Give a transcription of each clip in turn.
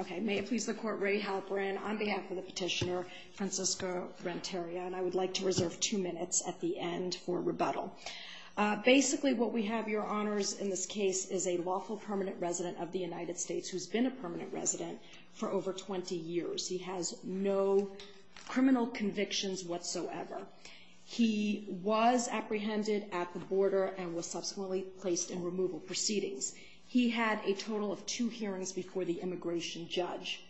Okay, may it please the Court, Ray Halperin on behalf of the petitioner Francisco-Renteria, and I would like to reserve two minutes at the end for rebuttal. Basically what we have, Your Honors, in this case is a lawful permanent resident of the United States who's been a permanent resident for over 20 years. He has no criminal convictions whatsoever. He was apprehended at the border and was subsequently placed in removal proceedings. He had a total of three years in prison, and he is now the immigration judge.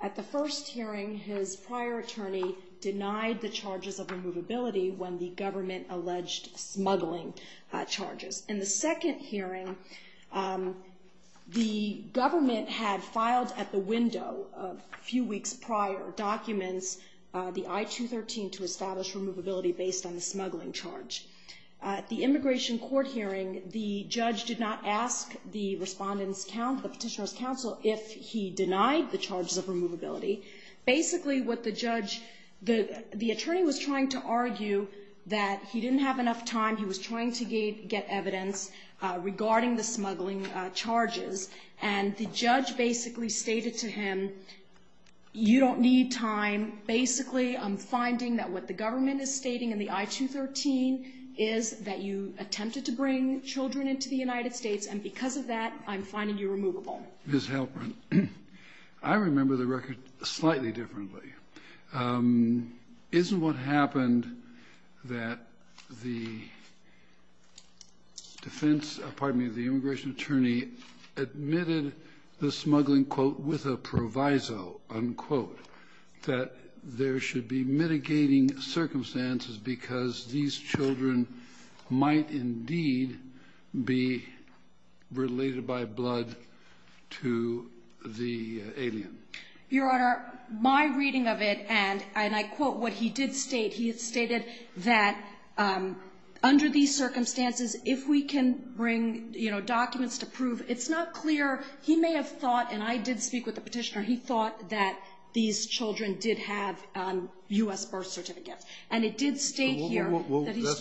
At the first hearing, his prior attorney denied the charges of removability when the government alleged smuggling charges. In the second hearing, the government had filed at the window a few weeks prior documents, the I-213, to establish removability based on the smuggling charge. At the immigration court hearing, the judge did not ask the petitioner's counsel if he denied the charges of removability. Basically what the judge, the attorney was trying to argue that he didn't have enough time, he was trying to get evidence regarding the smuggling charges, and the judge basically stated to him, you don't need time. Basically, I'm finding that what the government is stating in the I-213 is that you attempted to bring children into the United States, and because of that, I'm finding you removable. Mr. Halperin, I remember the record slightly differently. Isn't what happened that the defense, pardon me, the immigration attorney admitted the smuggling quote, with a proviso, unquote, that there should be mitigating circumstances because these children might indeed be related by blood to the alien? Your Honor, my reading of it, and I quote what he did state, he stated that under these circumstances, if we can bring, you know, documents to prove, it's not clear he may have thought, and I did speak with the petitioner, he thought that these Well, that's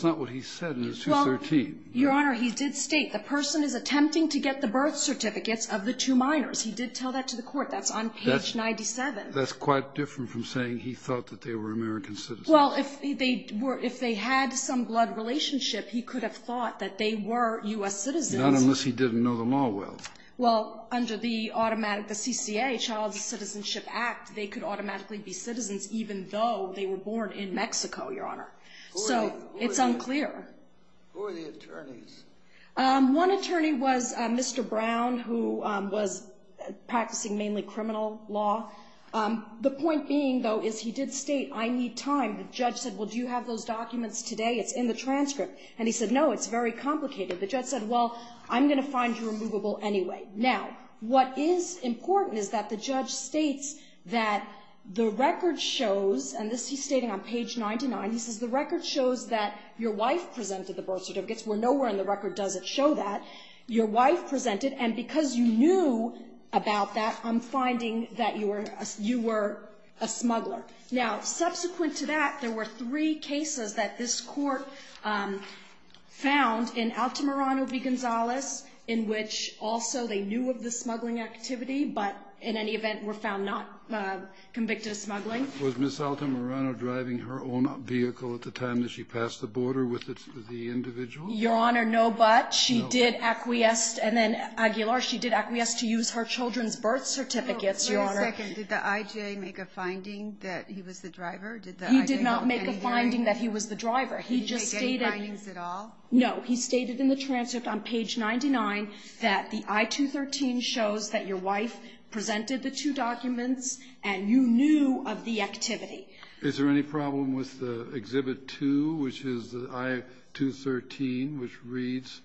not what he said in his I-213. Your Honor, he did state the person is attempting to get the birth certificates of the two minors. He did tell that to the court. That's on page 97. That's quite different from saying he thought that they were American citizens. Well, if they were – if they had some blood relationship, he could have thought that they were U.S. citizens. Not unless he didn't know the law well. Well, under the automatic, the CCA, Child Citizenship Act, they could automatically be citizens even though they were born in Mexico, Your Honor. So, it's unclear. Who are the attorneys? One attorney was Mr. Brown, who was practicing mainly criminal law. The point being, though, is he did state, I need time. The judge said, well, do you have those documents today? It's in the transcript. And he said, no, it's very complicated. The judge said, well, I'm going to find you removable anyway. Now, what is important is that the judge states that the record shows, and this he's saying on page 99, he says the record shows that your wife presented the birth certificates, where nowhere in the record does it show that your wife presented. And because you knew about that, I'm finding that you were – you were a smuggler. Now, subsequent to that, there were three cases that this Court found in Altamirano v. Gonzalez, in which also they knew of the smuggling activity, but in any event were found not convicted of smuggling. Was Ms. Altamirano driving her own vehicle at the time that she passed the border with the individual? Your Honor, no, but she did acquiesce. And then Aguilar, she did acquiesce to use her children's birth certificates, Your Honor. Wait a second. Did the IJA make a finding that he was the driver? Did the IJA not find any evidence? He did not make a finding that he was the driver. He just stated – Did he make any findings at all? No. He stated in the transcript on page 99 that the I-213 shows that your wife presented the two documents, and you knew of the activity. Is there any problem with the Exhibit 2, which is the I-213, which reads,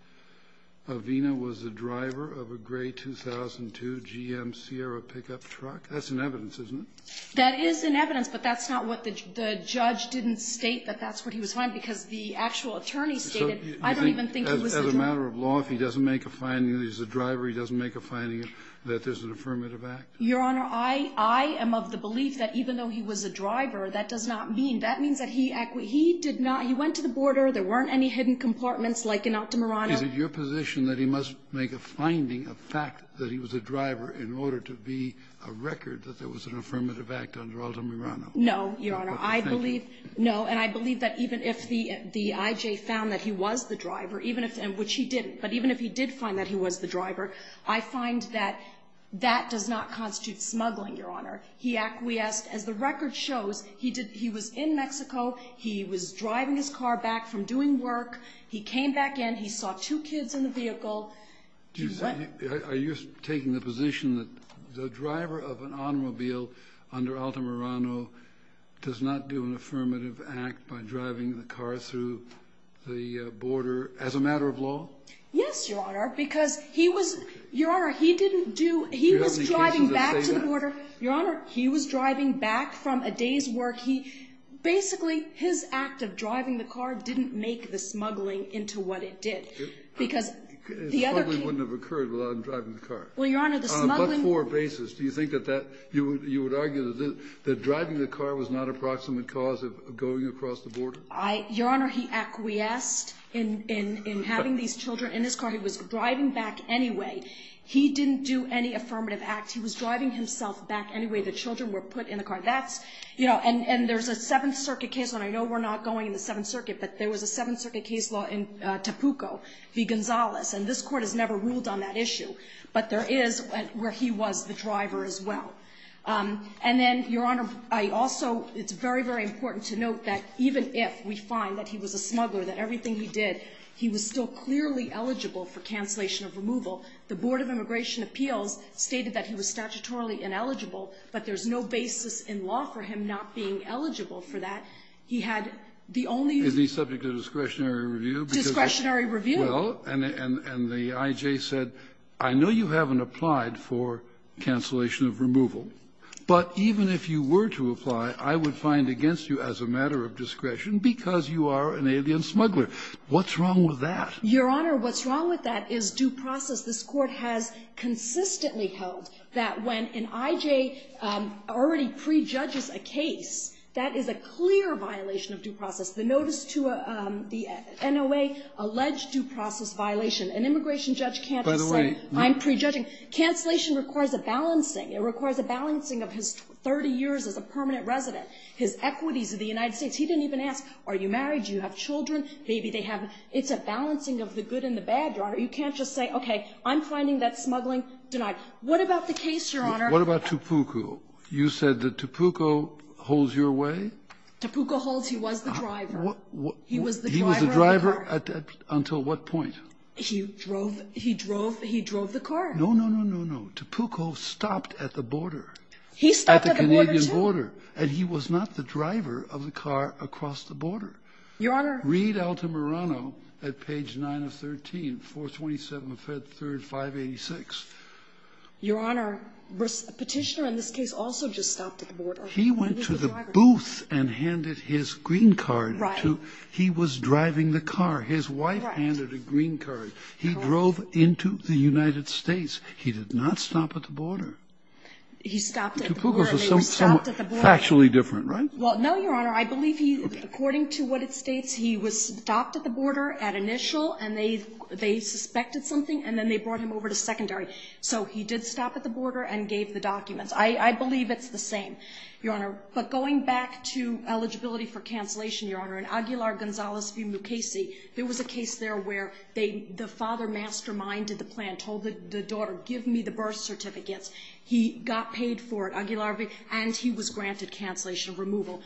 Avina was the driver of a gray 2002 GM Sierra pickup truck? That's in evidence, isn't it? That is in evidence, but that's not what the – the judge didn't state that that's what he was finding, because the actual attorney stated, I don't even think he was the driver. So you think as a matter of law, if he doesn't make a finding that he's the driver, he doesn't make a finding that there's an affirmative act? Your Honor, I am of the belief that even though he was a driver, that does not mean – that means that he – he did not – he went to the border. There weren't any hidden compartments like in Altamirano. Is it your position that he must make a finding, a fact, that he was a driver in order to be a record that there was an affirmative act under Altamirano? No, Your Honor. I believe – no, and I believe that even if the IJA found that he was the driver, even if – and which he didn't, but even if he did find that he was the driver, I find that that does not constitute smuggling, Your Honor. He acquiesced, as the record shows. He did – he was in Mexico. He was driving his car back from doing work. He came back in. He saw two kids in the vehicle. Do you – are you taking the position that the driver of an automobile under Altamirano does not do an affirmative act by driving the car through the border as a matter of law? Yes, Your Honor, because he was – Your Honor, he didn't do – he was driving back to the border. Your Honor, he was driving back from a day's work. He – basically, his act of driving the car didn't make the smuggling into what it did because the other – Smuggling wouldn't have occurred without him driving the car. Well, Your Honor, the smuggling – On what four bases do you think that that – you would argue that driving the car was not a proximate cause of going across the border? Your Honor, he acquiesced in having these children in his car. He was driving back anyway. He didn't do any affirmative act. He was driving himself back anyway. The children were put in the car. That's – you know, and there's a Seventh Circuit case, and I know we're not going in the Seventh Circuit, but there was a Seventh Circuit case law in Tapuco v. Gonzalez, and this Court has never ruled on that issue. But there is where he was the driver as well. And then, Your Honor, I also – it's very, very important to note that even if we find that he was a smuggler, that everything he did, he was still clearly eligible for cancellation of removal, the Board of Immigration Appeals stated that he was statutorily ineligible, but there's no basis in law for him not being eligible for that. He had the only – Is he subject to discretionary review? Discretionary review. Well, and the I.J. said, I know you haven't applied for cancellation of removal, but even if you were to apply, I would find against you as a matter of discretion because you are an alien smuggler. What's wrong with that? Your Honor, what's wrong with that is due process. This Court has consistently held that when an I.J. already prejudges a case, that is a clear violation of due process. The notice to the NOA alleged due process violation. An immigration judge can't just say, I'm prejudging. Cancellation requires a balancing. It requires a balancing of his 30 years as a permanent resident, his equities of the United States. He didn't even ask, are you married, do you have children, maybe they have – it's a balancing of the good and the bad, Your Honor. You can't just say, okay, I'm finding that smuggling denied. What about the case, Your Honor? What about Topuco? You said that Topuco holds your way? Topuco holds – he was the driver. He was the driver of the car. He was the driver until what point? He drove – he drove the car. No, no, no, no, no. Topuco stopped at the border. He stopped at the border, too? At the Canadian border. And he was not the driver of the car across the border. Your Honor – Read Altamirano at page 9 of 13, 427 Fed 3rd 586. Your Honor, Petitioner in this case also just stopped at the border. He went to the booth and handed his green card to – he was driving the car. His wife handed a green card. He drove into the United States. He did not stop at the border. He stopped at the border. Topuco is somewhat factually different, right? Well, no, Your Honor. I believe he – according to what it states, he was stopped at the border at initial and they suspected something and then they brought him over to secondary. So he did stop at the border and gave the documents. I believe it's the same. But going back to eligibility for cancellation, Your Honor, in Aguilar-Gonzalez v. Mukasey, there was a case there where the father masterminded the plan, told the daughter, give me the birth certificates. He got paid for it, Aguilar, and he was granted cancellation removal.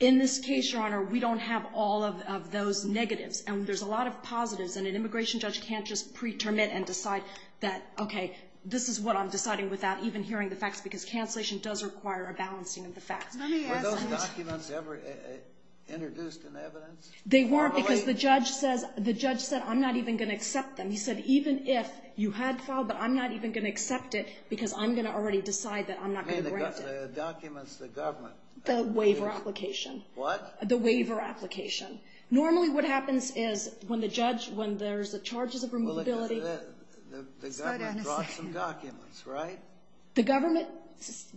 In this case, Your Honor, we don't have all of those negatives. And there's a lot of positives. And an immigration judge can't just pretermit and decide that, okay, this is what I'm Let me ask – Were those documents ever introduced in evidence? They weren't because the judge says – the judge said, I'm not even going to accept them. He said, even if you had filed, but I'm not even going to accept it because I'm going to already decide that I'm not going to grant it. You mean the documents the government – The waiver application. What? The waiver application. Normally what happens is when the judge – when there's the charges of removability – Well, the government brought some documents, right? The government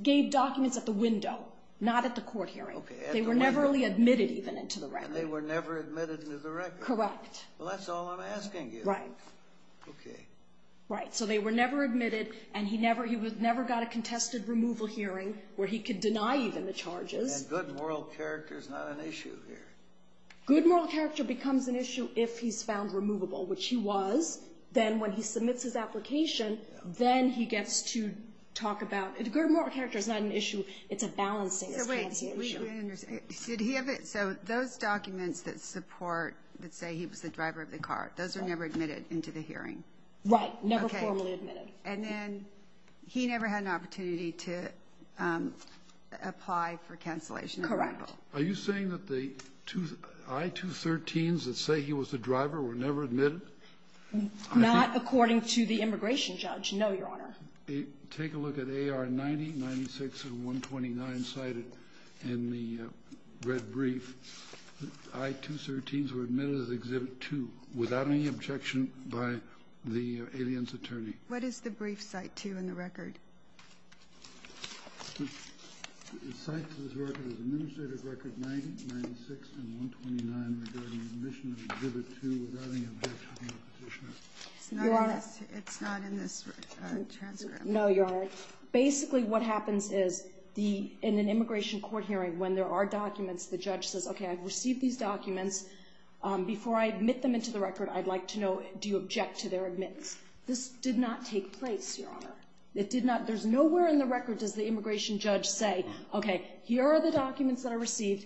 gave documents at the window, not at the court hearing. They were never really admitted even into the record. And they were never admitted into the record? Correct. Well, that's all I'm asking you. Right. Okay. Right. So they were never admitted, and he never got a contested removal hearing where he could deny even the charges. And good moral character is not an issue here. Good moral character becomes an issue if he's found removable, which he was. Then when he submits his application, then he gets to talk about – good moral character is not an issue. It's a balancing as can be issue. Wait. Did he have it? So those documents that support – that say he was the driver of the car, those were never admitted into the hearing? Right. Never formally admitted. And then he never had an opportunity to apply for cancellation of removal? Correct. Are you saying that the I-213s that say he was the driver were never admitted? Not according to the immigration judge. No, Your Honor. Take a look at AR-90, 96, and 129 cited in the red brief. I-213s were admitted as Exhibit 2 without any objection by the alien's attorney. What is the brief Cite 2 in the record? It cites this record as Administrative Record 90, 96, and 129 regarding admission to Exhibit 2 without any objection from the petitioner. It's not in this transcript. No, Your Honor. Basically, what happens is in an immigration court hearing, when there are documents, the judge says, okay, I've received these documents. Before I admit them into the record, I'd like to know, do you object to their admits? This did not take place, Your Honor. It did not. There's nowhere in the record does the immigration judge say, okay, here are the documents that I received.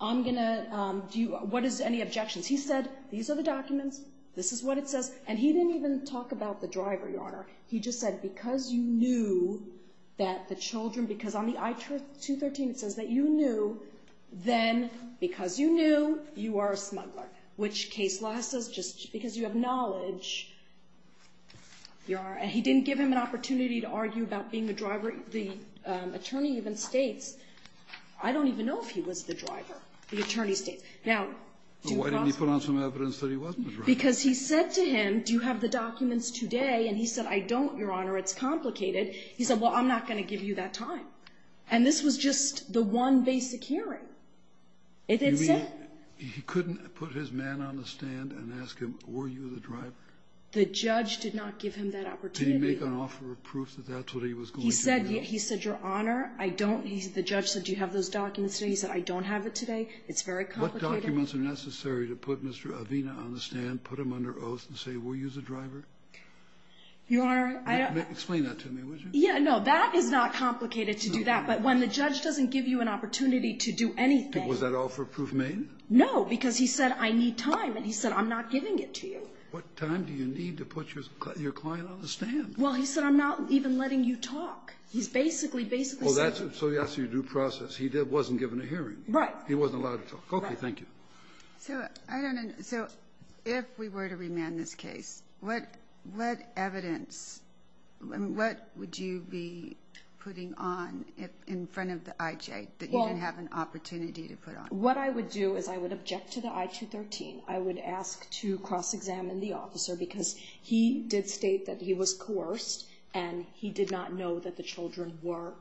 I'm going to – what is any objections? These are the documents. This is what it says. And he didn't even talk about the driver, Your Honor. He just said because you knew that the children – because on the I-213 it says that you knew, then because you knew, you are a smuggler, which case law says just because you have knowledge, you are – and he didn't give him an opportunity to argue about being the driver. The attorney even states, I don't even know if he was the driver. The attorney states. Now, do you – Why didn't he put on some evidence that he wasn't the driver? Because he said to him, do you have the documents today? And he said, I don't, Your Honor. It's complicated. He said, well, I'm not going to give you that time. And this was just the one basic hearing. It didn't say – You mean he couldn't put his man on the stand and ask him, were you the driver? The judge did not give him that opportunity. Did he make an offer of proof that that's what he was going to do? He said, Your Honor, I don't – the judge said, do you have those documents today? He said, I don't have it today. It's very complicated. What documents are necessary to put Mr. Avina on the stand, put him under oath, and say, were you the driver? Your Honor, I don't – Explain that to me, would you? Yeah. No. That is not complicated to do that. But when the judge doesn't give you an opportunity to do anything – Was that offer of proof made? No. Because he said, I need time. And he said, I'm not giving it to you. What time do you need to put your client on the stand? Well, he said, I'm not even letting you talk. He's basically, basically saying – Well, that's – so that's your due process. He wasn't given a hearing. Right. He wasn't allowed to talk. Thank you. So I don't – so if we were to remand this case, what evidence – what would you be putting on in front of the IJ that you didn't have an opportunity to put on? What I would do is I would object to the I-213. I would ask to cross-examine the officer because he did state that he was coerced and he did not know that the children were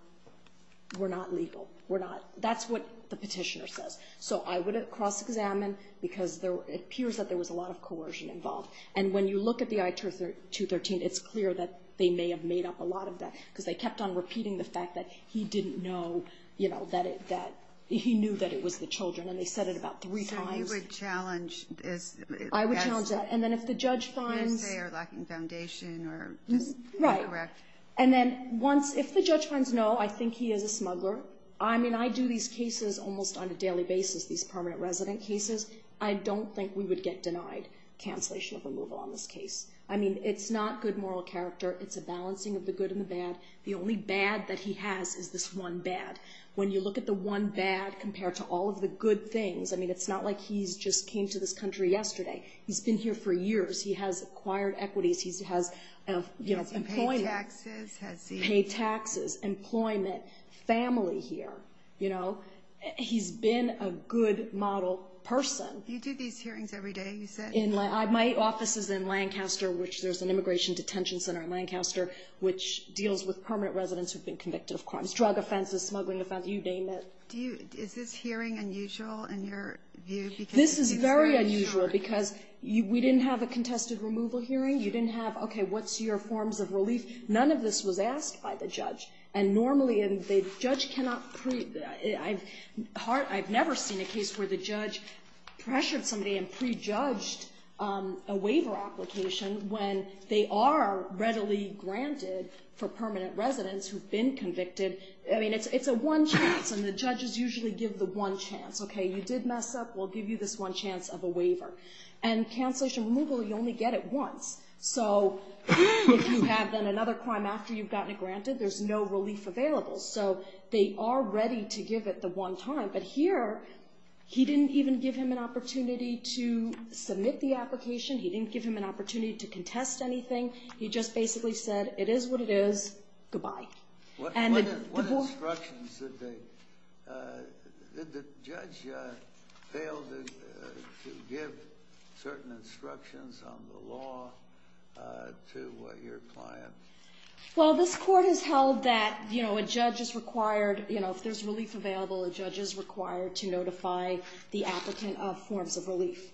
not legal, were not – that's what the petitioner says. So I would cross-examine because there – it appears that there was a lot of coercion involved. And when you look at the I-213, it's clear that they may have made up a lot of that because they kept on repeating the fact that he didn't know, you know, that it – that he knew that it was the children. And they said it about three times. So you would challenge as – I would challenge that. And then if the judge finds – They say are lacking foundation or just incorrect. Right. And then once – if the judge finds no, I think he is a smuggler. I mean, I do these cases almost on a daily basis, these permanent resident cases. I don't think we would get denied cancellation of removal on this case. I mean, it's not good moral character. It's a balancing of the good and the bad. The only bad that he has is this one bad. When you look at the one bad compared to all of the good things, I mean, it's not like he's just came to this country yesterday. He's been here for years. He has acquired equities. He has, you know, employment. Has he paid taxes? Paid taxes, employment, family here. You know, he's been a good model person. You do these hearings every day, you said? In my – my office is in Lancaster, which there's an immigration detention center in Lancaster, which deals with permanent residents who've been convicted of crimes, drug offenses, smuggling offenses, you name it. Do you – is this hearing unusual in your view? This is very unusual because we didn't have a contested removal hearing. You didn't have, okay, what's your forms of relief? None of this was asked by the judge. And normally, the judge cannot – I've never seen a case where the judge pressured somebody and prejudged a waiver application when they are readily granted for permanent residents who've been convicted. I mean, it's a one chance, and the judges usually give the one chance. Okay, you did mess up, we'll give you this one chance of a waiver. And cancellation removal, you only get it once. So if you have then another crime after you've gotten it granted, there's no relief available. So they are ready to give it the one time. But here, he didn't even give him an opportunity to submit the application. He didn't give him an opportunity to contest anything. He just basically said, it is what it is, goodbye. What instructions did they – did the judge fail to give certain instructions on the law to your client? Well, this court has held that, you know, a judge is required, you know, if there's relief available, a judge is required to notify the applicant of forms of relief.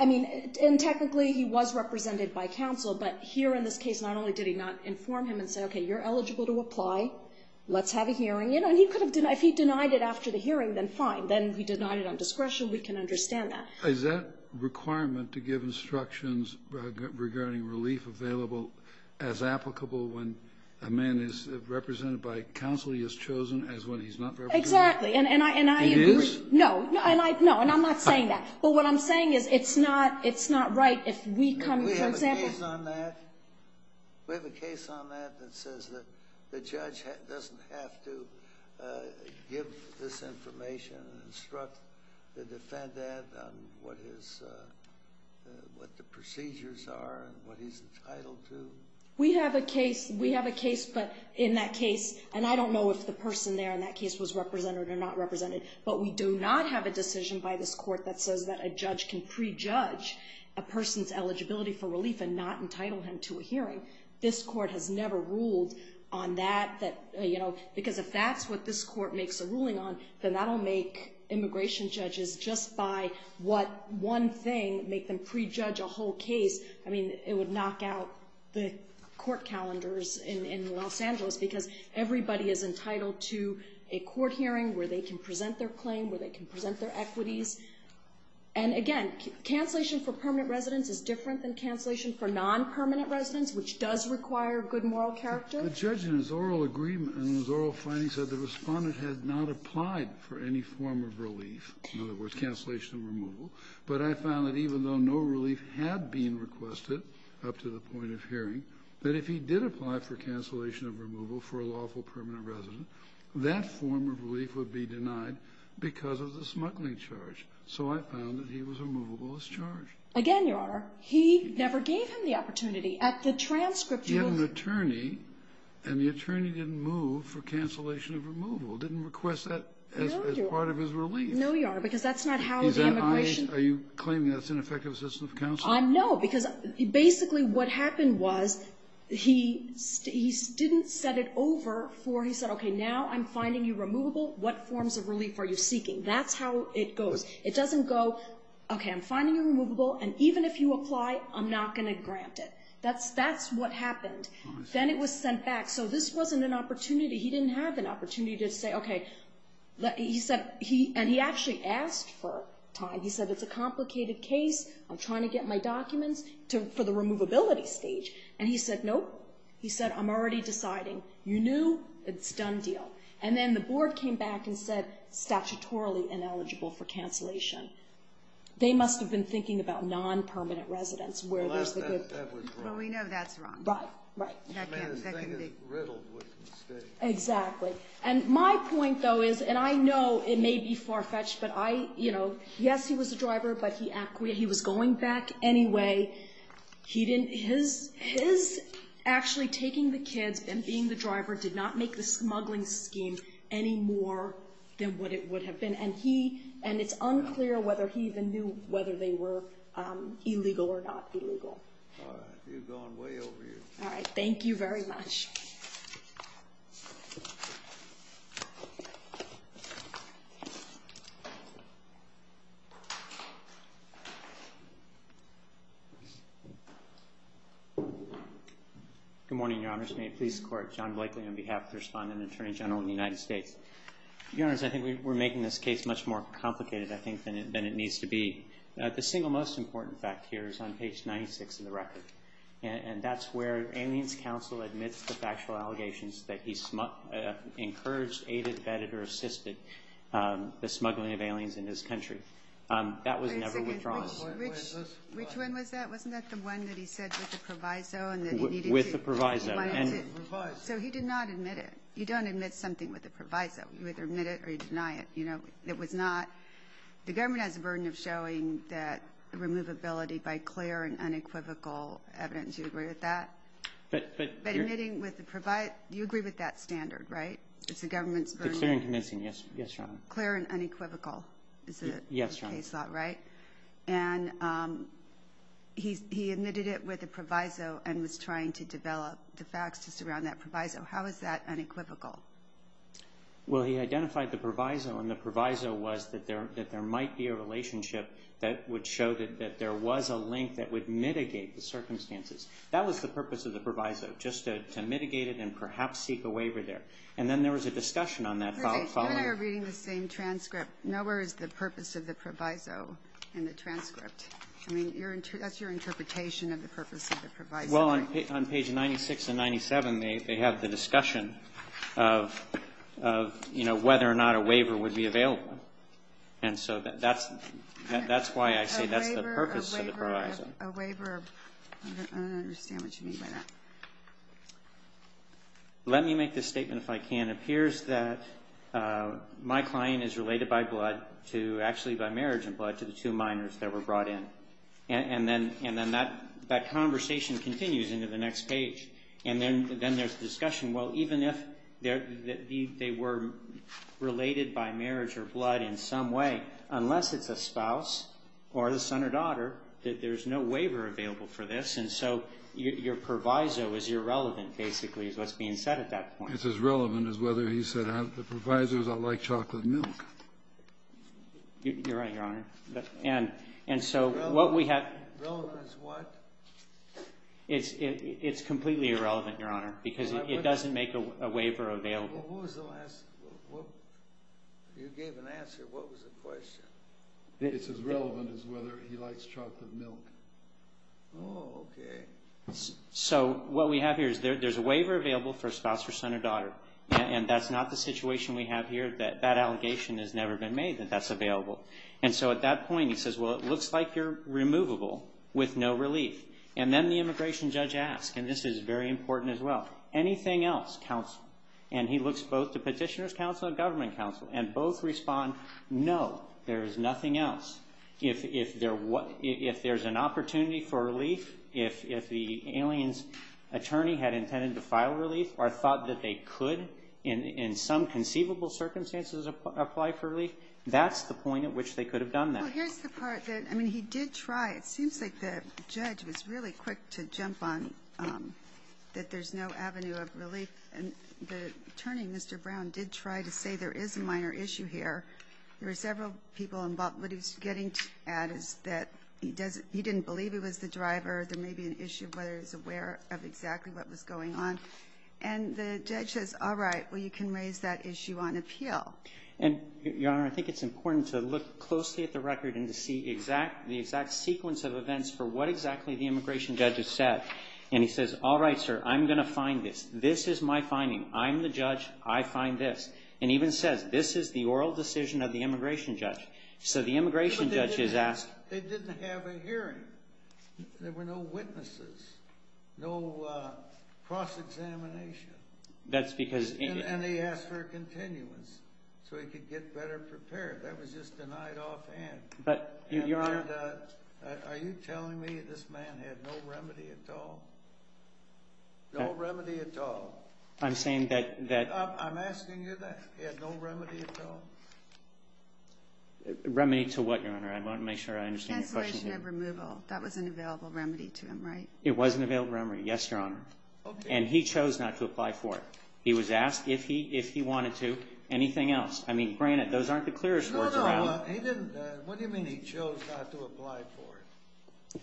I mean, and technically, he was represented by counsel. But here in this case, not only did he not inform him and say, okay, you're eligible to apply. Let's have a hearing. You know, and he could have – if he denied it after the hearing, then fine. Then he denied it on discretion. We can understand that. Is that requirement to give instructions regarding relief available as applicable when a man is represented by counsel? He is chosen as when he's not represented? Exactly. And I agree. It is? No. And I – no. And I'm not saying that. But what I'm saying is it's not – it's not right if we come – for example – Do we have a case on that? Do we have a case on that that says that the judge doesn't have to give this information and instruct the defendant on what his – what the procedures are and what he's entitled to? We have a case. We have a case. But in that case – and I don't know if the person there in that case was represented or not represented. But we do not have a decision by this Court that says that a judge can prejudge a person's eligibility for relief and not entitle him to a hearing. This Court has never ruled on that. That – because if that's what this Court makes a ruling on, then that'll make immigration judges – just by what one thing – make them prejudge a whole case. I mean, it would knock out the court calendars in Los Angeles because everybody is entitled to a court hearing where they can present their claim, where they can present their equities. And again, cancellation for permanent residence is different than cancellation for non-permanent residence, which does require good moral character. The judge in his oral agreement – in his oral findings said the respondent had not applied for any form of relief – in other words, cancellation of removal. But I found that even though no relief had been requested up to the point of hearing, that if he did apply for cancellation of removal for a lawful permanent residence, that form of relief would be denied because of the smuggling charge. So I found that he was removable as charged. Again, Your Honor, he never gave him the opportunity. At the transcript, you will… He had an attorney, and the attorney didn't move for cancellation of removal, didn't request that as part of his relief. No, Your Honor, because that's not how the immigration… Are you claiming that's ineffective assistance of counsel? No, because basically what happened was he didn't set it over for – he said, okay, now I'm finding you removable. What forms of relief are you seeking? That's how it goes. It doesn't go, okay, I'm finding you removable, and even if you apply, I'm not going to grant it. That's what happened. Then it was sent back. So this wasn't an opportunity. He didn't have an opportunity to say, okay, he said – and he actually asked for time. He said, it's a complicated case. I'm trying to get my documents for the removability stage. And he said, nope. He said, I'm already deciding. You knew. It's a done deal. And then the board came back and said, statutorily ineligible for cancellation. They must have been thinking about non-permanent residence where there's a good… Well, we know that's wrong. Right, right. Exactly. And my point, though, is – and I know it may be far-fetched, but I – you know, yes, he was a driver, but he – he was going back anyway. He didn't – his – his actually taking the kids and being the driver did not make the smuggling scheme any more than what it would have been. And he – and it's unclear whether he even knew whether they were illegal or not illegal. All right. You've gone way over your head. All right. Thank you very much. Good morning, Your Honors. May it please the Court. John Blakely on behalf of the Respondent and Attorney General of the United States. Your Honors, I think we're making this case much more complicated, I think, than it needs to be. The single most important fact here is on page 96 of the record, and that's where Aliens Counsel admits the factual allegations that he encouraged, aided, vetted, or assisted the smuggling of aliens in his country. That was never withdrawn. Wait a second. Which one was that? Wasn't that the one that he said with the proviso and that he needed to… With the proviso. …he wanted to… With the proviso. So he did not admit it. You don't admit something with a proviso. You either admit it or you deny it. It was not… The government has a burden of showing that removability by clear and unequivocal evidence. Do you agree with that? But… But admitting with the proviso… You agree with that standard, right? It's the government's burden. It's clear and convincing. Yes, Your Honor. Clear and unequivocal is the case law, right? Yes, Your Honor. And he admitted it with a proviso and was trying to develop the facts to surround that proviso. How is that unequivocal? Well, he identified the proviso and the proviso was that there might be a relationship that would show that there was a link that would mitigate the circumstances. That was the purpose of the proviso, just to mitigate it and perhaps seek a waiver there. And then there was a discussion on that following… You and I are reading the same transcript. Nowhere is the purpose of the proviso in the transcript. I mean, that's your interpretation of the purpose of the proviso. Well, on page 96 and 97, they have the discussion of, you know, whether or not a waiver would be available. And so that's why I say that's the purpose of the proviso. A waiver… I don't understand what you mean by that. Let me make this statement if I can. It appears that my client is related by blood to, actually by marriage and blood, to the two minors that were brought in. And then that conversation continues into the next page. And then there's discussion, well, even if they were related by marriage or blood in some way, unless it's a spouse or the son or daughter, that there's no waiver available for this. And so your proviso is irrelevant, basically, is what's being said at that point. It's as relevant as whether he said, the proviso is I like chocolate milk. You're right, Your Honor. And so what we have… Relevant as what? It's completely irrelevant, Your Honor, because it doesn't make a waiver available. Well, who was the last… You gave an answer. What was the question? It's as relevant as whether he likes chocolate milk. Oh, okay. So what we have here is there's a waiver available for a spouse or son or daughter. And that's not the situation we have here. That allegation has never been made that that's available. And so at that point, he says, well, it looks like you're removable with no relief. And then the immigration judge asks, and this is very important as well, anything else, counsel? And he looks both to petitioner's counsel and government counsel and both respond, no, there is nothing else. If there's an opportunity for relief, if the alien's attorney had intended to file relief or thought that they could in some conceivable circumstances apply for relief, that's the point at which they could have done that. Well, here's the part that, I mean, he did try. It seems like the judge was really quick to jump on that there's no avenue of relief. And the attorney, Mr. Brown, did try to say there is a minor issue here. There were several people involved. What he's getting at is that he didn't believe he was the driver. There may be an issue of whether he's aware of exactly what was going on. And the judge says, all right, well, you can raise that issue on appeal. And, Your Honor, I think it's important to look closely at the record and to see the exact sequence of events for what exactly the immigration judge has said. And he says, all right, sir, I'm going to find this. This is my finding. I'm the judge. I find this. And even says, this is the oral decision of the immigration judge. So the immigration judge has asked. They didn't have a hearing. There were no witnesses, no cross-examination. And they asked for a continuance. So he could get better prepared. That was just denied offhand. But, Your Honor. Are you telling me this man had no remedy at all? No remedy at all? I'm saying that. I'm asking you that. He had no remedy at all? Remedy to what, Your Honor? I want to make sure I understand your question. Cancellation of removal. That was an available remedy to him, right? It was an available remedy. Yes, Your Honor. And he chose not to apply for it. He was asked if he wanted to. Anything else? I mean, granted, those aren't the clearest words around. He didn't. What do you mean he chose not to apply for it?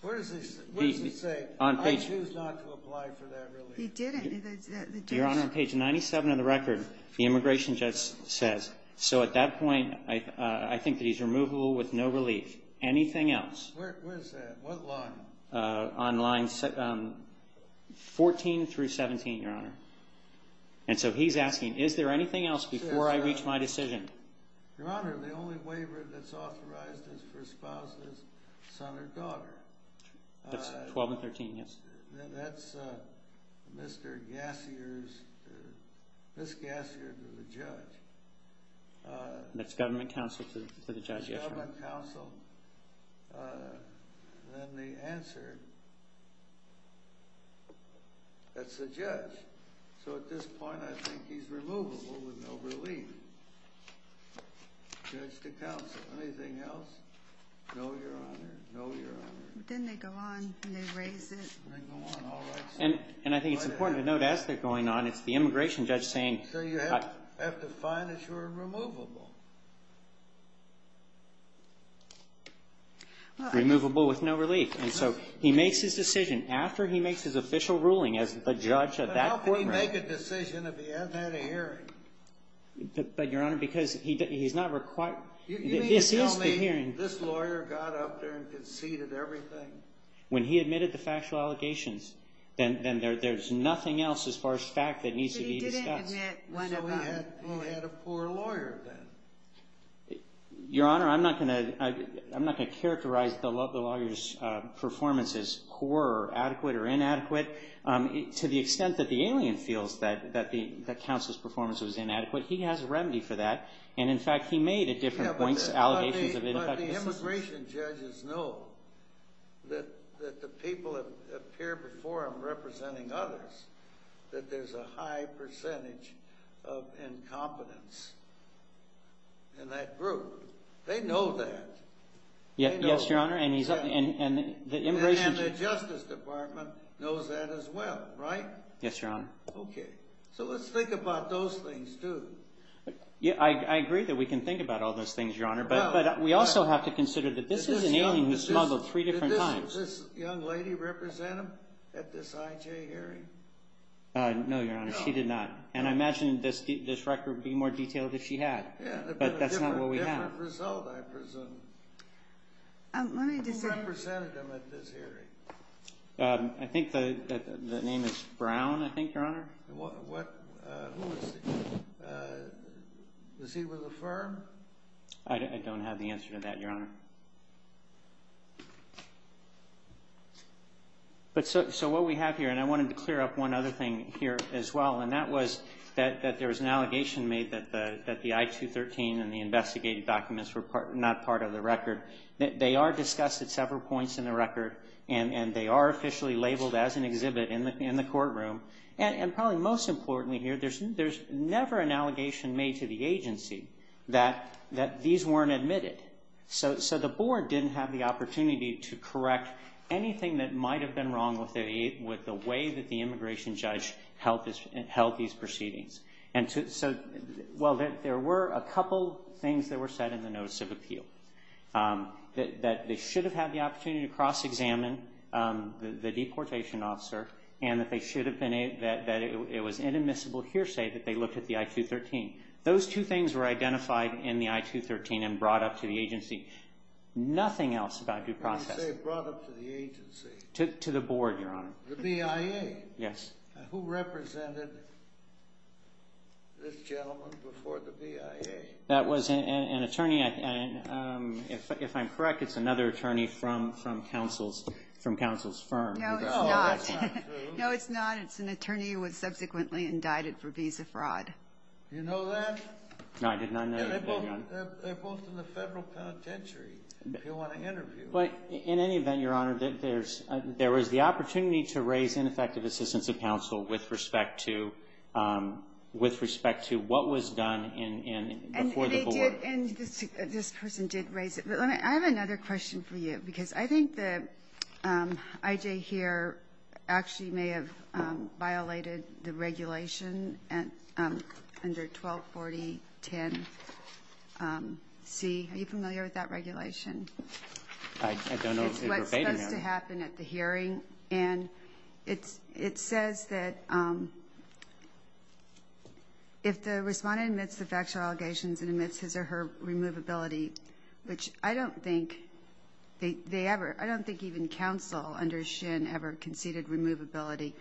Where does he say, I choose not to apply for that relief? He didn't. Your Honor, on page 97 of the record, the immigration judge says. So at that point, I think that he's removable with no relief. Anything else? Where is that? What line? On line 14 through 17, Your Honor. And so he's asking, is there anything else before I reach my decision? Your Honor, the only waiver that's authorized is for spouses, son or daughter. That's 12 and 13, yes. That's Mr. Gassier's, Miss Gassier to the judge. That's government counsel to the judge, yes. Then the answer, that's the judge. So at this point, I think he's removable with no relief. Judge to counsel. Anything else? No, Your Honor. No, Your Honor. Then they go on and they raise it. Then they go on. All right. And I think it's important to note, as they're going on, it's the immigration judge saying. So you have to find that you're removable. Removable with no relief. And so he makes his decision. After he makes his official ruling as the judge of that court. But how can he make a decision if he hasn't had a hearing? But Your Honor, because he's not required. This is the hearing. This lawyer got up there and conceded everything. When he admitted the factual allegations, then there's nothing else as far as fact that needs to be discussed. But he didn't admit one of them. So he had a poor lawyer then. But Your Honor, I'm not going to characterize the lawyer's performance as poor or adequate or inadequate. To the extent that the alien feels that counsel's performance was inadequate, he has a remedy for that. And in fact, he made at different points allegations of ineffective assistance. But the immigration judges know that the people that appear before him representing others, that there's a high percentage of incompetence in that group. They know that. Yes, Your Honor. And he's and the immigration. And the Justice Department knows that as well. Right? Yes, Your Honor. OK. So let's think about those things, too. Yeah, I agree that we can think about all those things, Your Honor. But we also have to consider that this is an alien who's smuggled three different times. Does this young lady represent him at this IJ hearing? No, Your Honor. She did not. And I imagine this record would be more detailed if she had. But that's not what we have. A different result, I presume. Who represented him at this hearing? I think the name is Brown, I think, Your Honor. I don't have the answer to that, Your Honor. But so what we have here, and I wanted to clear up one other thing here as well, and that was that there was an allegation made that the I-213 and the investigative documents were not part of the record. They are discussed at several points in the record. And they are officially labeled as an exhibit in the courtroom. And probably most importantly here, there's never an allegation made to the agency that these weren't admitted. So the board didn't have the opportunity to correct anything that might have been wrong with the way that the immigration judge held these proceedings. And so, well, there were a couple things that were said in the notice of appeal. That they should have had the opportunity to cross-examine the deportation officer, and that it was inadmissible hearsay that they looked at the I-213. Those two things were identified in the I-213 and brought up to the agency. Nothing else about due process. You say brought up to the agency. To the board, Your Honor. The BIA. Yes. Who represented this gentleman before the BIA? That was an attorney. If I'm correct, it's another attorney from counsel's firm. No, it's not. No, it's not. It's an attorney who was subsequently indicted for visa fraud. You know that? No, I did not know that, Your Honor. They're both in the federal penitentiary, if you want to interview them. But in any event, Your Honor, there was the opportunity to raise ineffective assistance of counsel with respect to what was done before the board. And this person did raise it. But I have another question for you. Because I think that I.J. here actually may have violated the regulation under 124010C. Are you familiar with that regulation? I don't know if you're debating it. It's what's supposed to happen at the hearing. And it says that if the respondent admits the factual allegations and admits his or her removability, which I don't think they ever. I don't think even counsel under Shin ever conceded removability.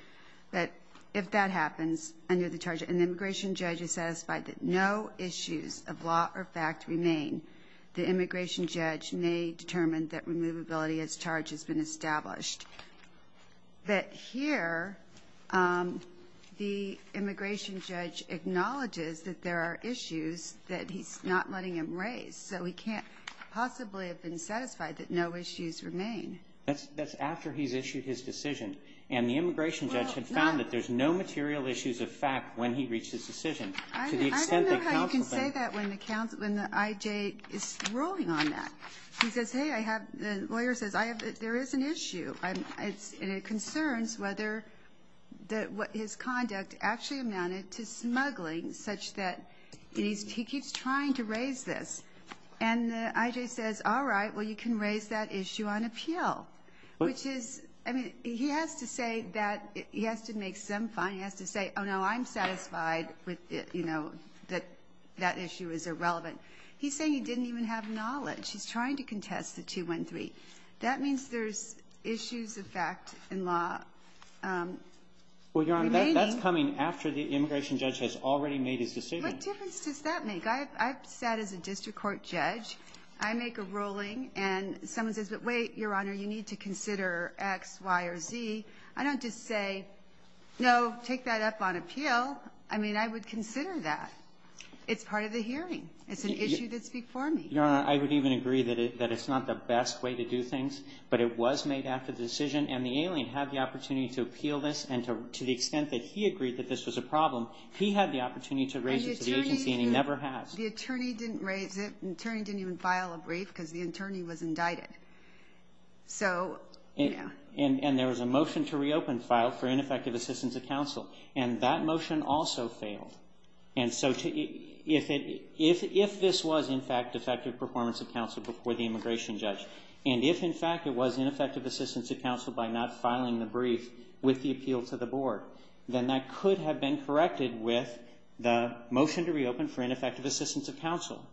But if that happens under the charge and the immigration judge is satisfied that no issues of law or fact remain, the immigration judge may determine that removability as charged has been established. But here, the immigration judge acknowledges that there are issues that he's not letting him raise. So he can't possibly have been satisfied that no issues remain. That's after he's issued his decision. And the immigration judge had found that there's no material issues of fact when he reached his decision. I don't know how you can say that when the I.J. is ruling on that. He says, hey, I have. The lawyer says, there is an issue. And it concerns whether his conduct actually amounted to smuggling such that he keeps trying to raise this. And the I.J. says, all right, well, you can raise that issue on appeal. Which is, I mean, he has to say that he has to make some fine. He has to say, oh, no, I'm satisfied with it, you know, that that issue is irrelevant. He's saying he didn't even have knowledge. He's trying to contest the 213. That means there's issues of fact in law. Well, Your Honor, that's coming after the immigration judge has already made his decision. What difference does that make? I've sat as a district court judge. I make a ruling and someone says, but wait, Your Honor, you need to consider X, Y, or Z. I don't just say, no, take that up on appeal. I mean, I would consider that. It's part of the hearing. It's an issue that's before me. Your Honor, I would even agree that it's not the best way to do things, but it was made after the decision. And the alien had the opportunity to appeal this. And to the extent that he agreed that this was a problem, he had the opportunity to raise it to the agency and he never has. The attorney didn't raise it. The attorney didn't even file a brief because the attorney was indicted. So, yeah. And there was a motion to reopen file for ineffective assistance of counsel. And that motion also failed. And so if this was, in fact, defective performance of counsel before the immigration judge, and if, in fact, it was ineffective assistance of counsel by not filing the brief with the appeal to the board, then that could have been corrected with the motion to reopen for ineffective assistance of counsel.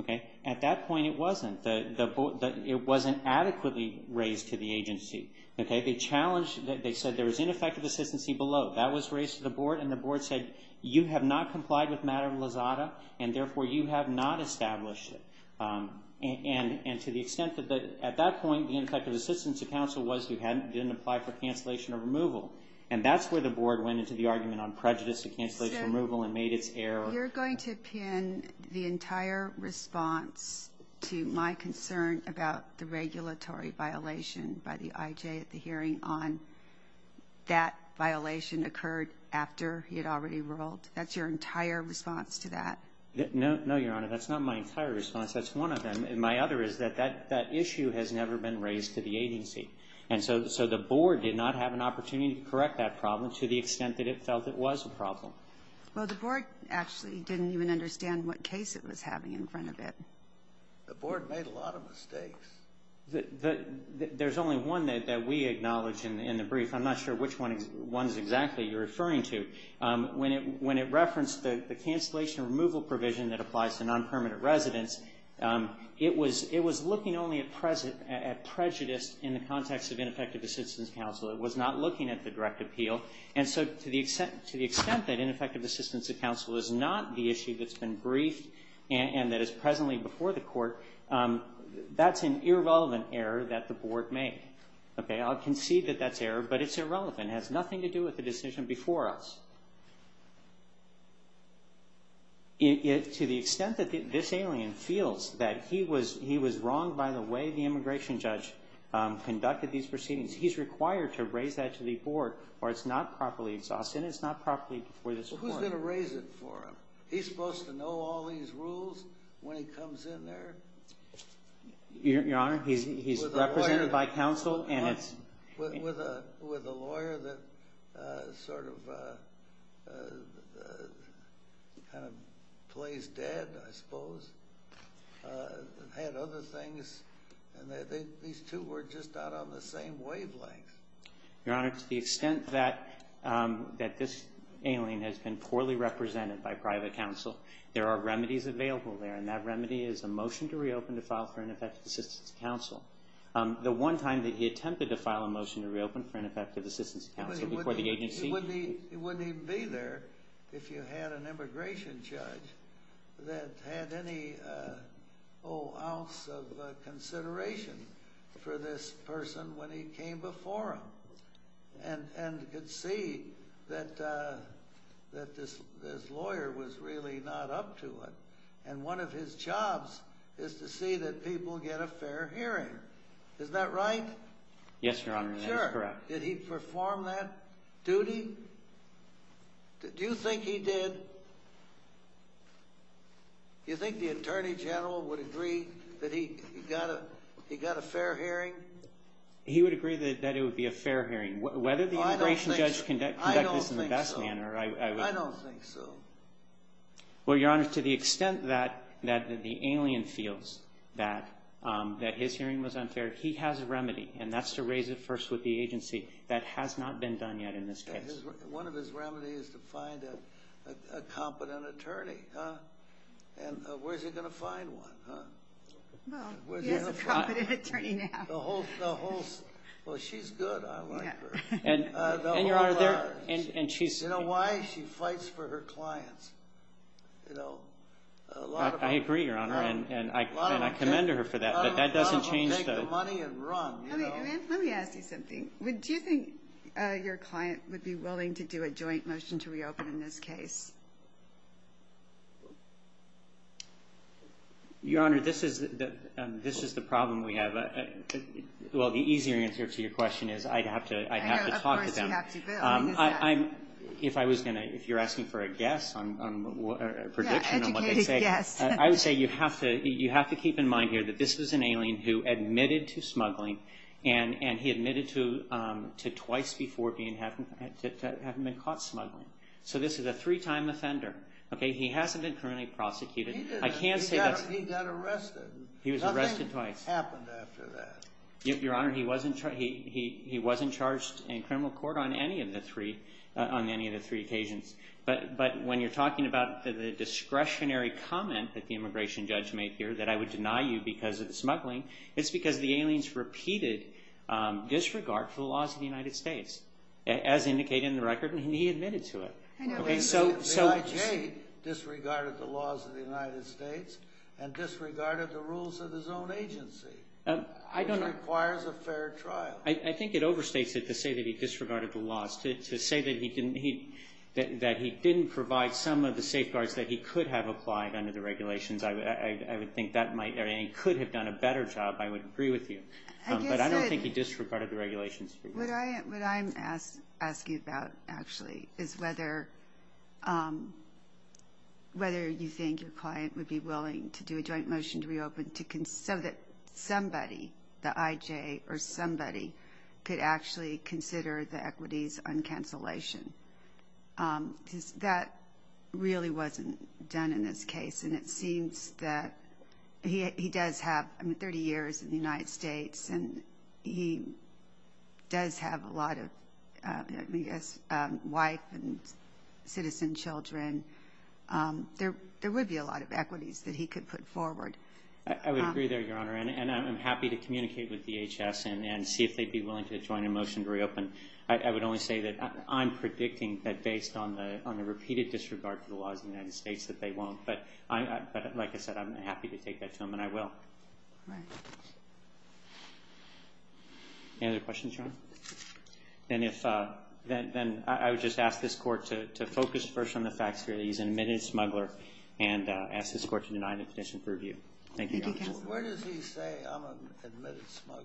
Okay? At that point, it wasn't. It wasn't adequately raised to the agency. Okay? They challenged. They said there was ineffective assistance below. That was raised to the board. And the board said, you have not complied with matter of Lizada, and therefore, you have not established it. And to the extent that at that point, the ineffective assistance of counsel was you hadn't, didn't apply for cancellation of removal. And that's where the board went into the argument on prejudice to cancellation of removal and made its error. You're going to pin the entire response to my concern about the regulatory violation by the I.J. at the hearing on that violation occurred after he had already ruled. That's your entire response to that? No, Your Honor. That's not my entire response. That's one of them. And my other is that that issue has never been raised to the agency. And so the board did not have an opportunity to correct that problem to the extent that it felt it was a problem. Well, the board actually didn't even understand what case it was having in front of it. The board made a lot of mistakes. There's only one that we acknowledge in the brief. I'm not sure which one is exactly you're referring to. When it referenced the cancellation of removal provision that applies to nonpermanent residents, it was looking only at prejudice in the context of ineffective assistance counsel. It was not looking at the direct appeal. And so to the extent that ineffective assistance of counsel is not the issue that's been briefed and that is presently before the court, that's an irrelevant error that the board made. I'll concede that that's error, but it's irrelevant. It has nothing to do with the decision before us. To the extent that this alien feels that he was wronged by the way the immigration judge conducted these proceedings, he's required to raise that to the board or it's not properly exhausted. It's not properly before this court. Who's going to raise it for him? He's supposed to know all these rules when he comes in there? Your Honor, he's represented by counsel and it's... With a lawyer that sort of kind of plays dead, I suppose, and had other things. And these two were just not on the same wavelength. Your Honor, to the extent that this alien has been poorly represented by private counsel, there are remedies available there. And that remedy is a motion to reopen to file for ineffective assistance of counsel. The one time that he attempted to file a motion to reopen for ineffective assistance of counsel before the agency... He wouldn't even be there if you had an immigration judge that had any ounce of And could see that this lawyer was really not up to it. And one of his jobs is to see that people get a fair hearing. Is that right? Yes, Your Honor, that is correct. Did he perform that duty? Do you think he did? Do you think the Attorney General would agree that he got a fair hearing? He would agree that it would be a fair hearing. Whether the immigration judge conduct this in the best manner, I would... I don't think so. Well, Your Honor, to the extent that the alien feels that his hearing was unfair, he has a remedy. And that's to raise it first with the agency. That has not been done yet in this case. One of his remedies is to find a competent attorney. And where's he going to find one? Well, he has a competent attorney now. The whole... Well, she's good. I like her. And Your Honor, and she's... You know why? She fights for her clients. You know, a lot of... I agree, Your Honor, and I commend her for that. But that doesn't change the... I'm going to take the money and run, you know. Let me ask you something. Do you think your client would be willing to do a joint motion to reopen in this case? Your Honor, this is the problem we have. Well, the easier answer to your question is I'd have to talk to them. Of course you have to, Bill. If I was going to... If you're asking for a guess, a prediction on what they say, I would say you have to keep in mind here that this was an alien who admitted to smuggling, and he admitted to twice before having been caught smuggling. So this is a three-time offender. Okay? He hasn't been criminally prosecuted. I can't say that's... He got arrested. He was arrested twice. Nothing happened after that. Your Honor, he wasn't charged in criminal court on any of the three occasions. But when you're talking about the discretionary comment that the immigration judge made here that I would deny you because of the smuggling, it's because the aliens repeated disregard for the laws of the United States, as indicated in the record, and he admitted to it. I know, but... The IJ disregarded the laws of the United States and disregarded the rules of his own agency. I don't know... Which requires a fair trial. I think it overstates it to say that he disregarded the laws. To say that he didn't provide some of the safeguards that he could have applied under the regulations, I would think that he could have done a better job. I would agree with you. But I don't think he disregarded the regulations. What I'm asking about, actually, is whether you think your client would be willing to do a joint motion to reopen so that somebody, the IJ or somebody, could actually consider the equities on cancellation. That really wasn't done in this case. And it seems that he does have 30 years in the United States, and he does have a lot of, I guess, wife and citizen children. There would be a lot of equities that he could put forward. I would agree there, Your Honor. And I'm happy to communicate with DHS and see if they'd be willing to join a motion to reopen. I would only say that I'm predicting that based on the repeated disregard to the laws of the United States, that they won't. But like I said, I'm happy to take that to them, and I will. Right. Any other questions, Your Honor? Then I would just ask this Court to focus first on the facts here that he's an admitted smuggler and ask this Court to deny the petition for review. Where does he say I'm an admitted smuggler?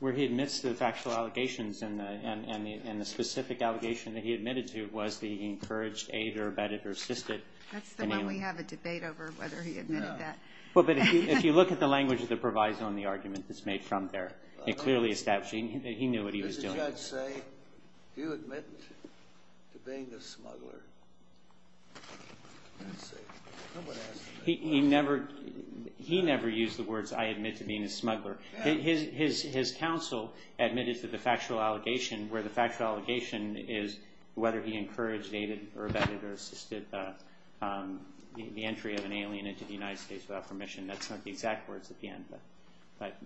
Where he admits to the factual allegations, and the specific allegation that he admitted to was that he encouraged, aided, or abetted, or assisted. That's the one we have a debate over, whether he admitted that. Well, but if you look at the language that provides on the argument that's made from there, it clearly establishes that he knew what he was doing. Does the judge say, do you admit to being a smuggler? He never used the words, I admit to being a smuggler. His counsel admitted to the factual allegation, where the factual allegation is whether he encouraged, aided, or abetted, or assisted the entry of an alien into the United States without permission. That's not the exact words at the end,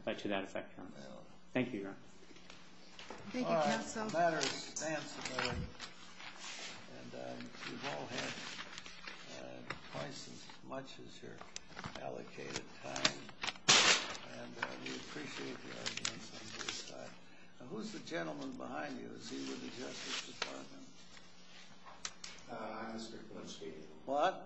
but to that effect, Your Honor. Thank you, Your Honor. Thank you, counsel. It's a matter of stance, and we've all had twice as much as your allocated time, and we appreciate the arguments on this side. Now, who's the gentleman behind you? Is he with the Justice Department? Uh, Mr. Gluckstein. What?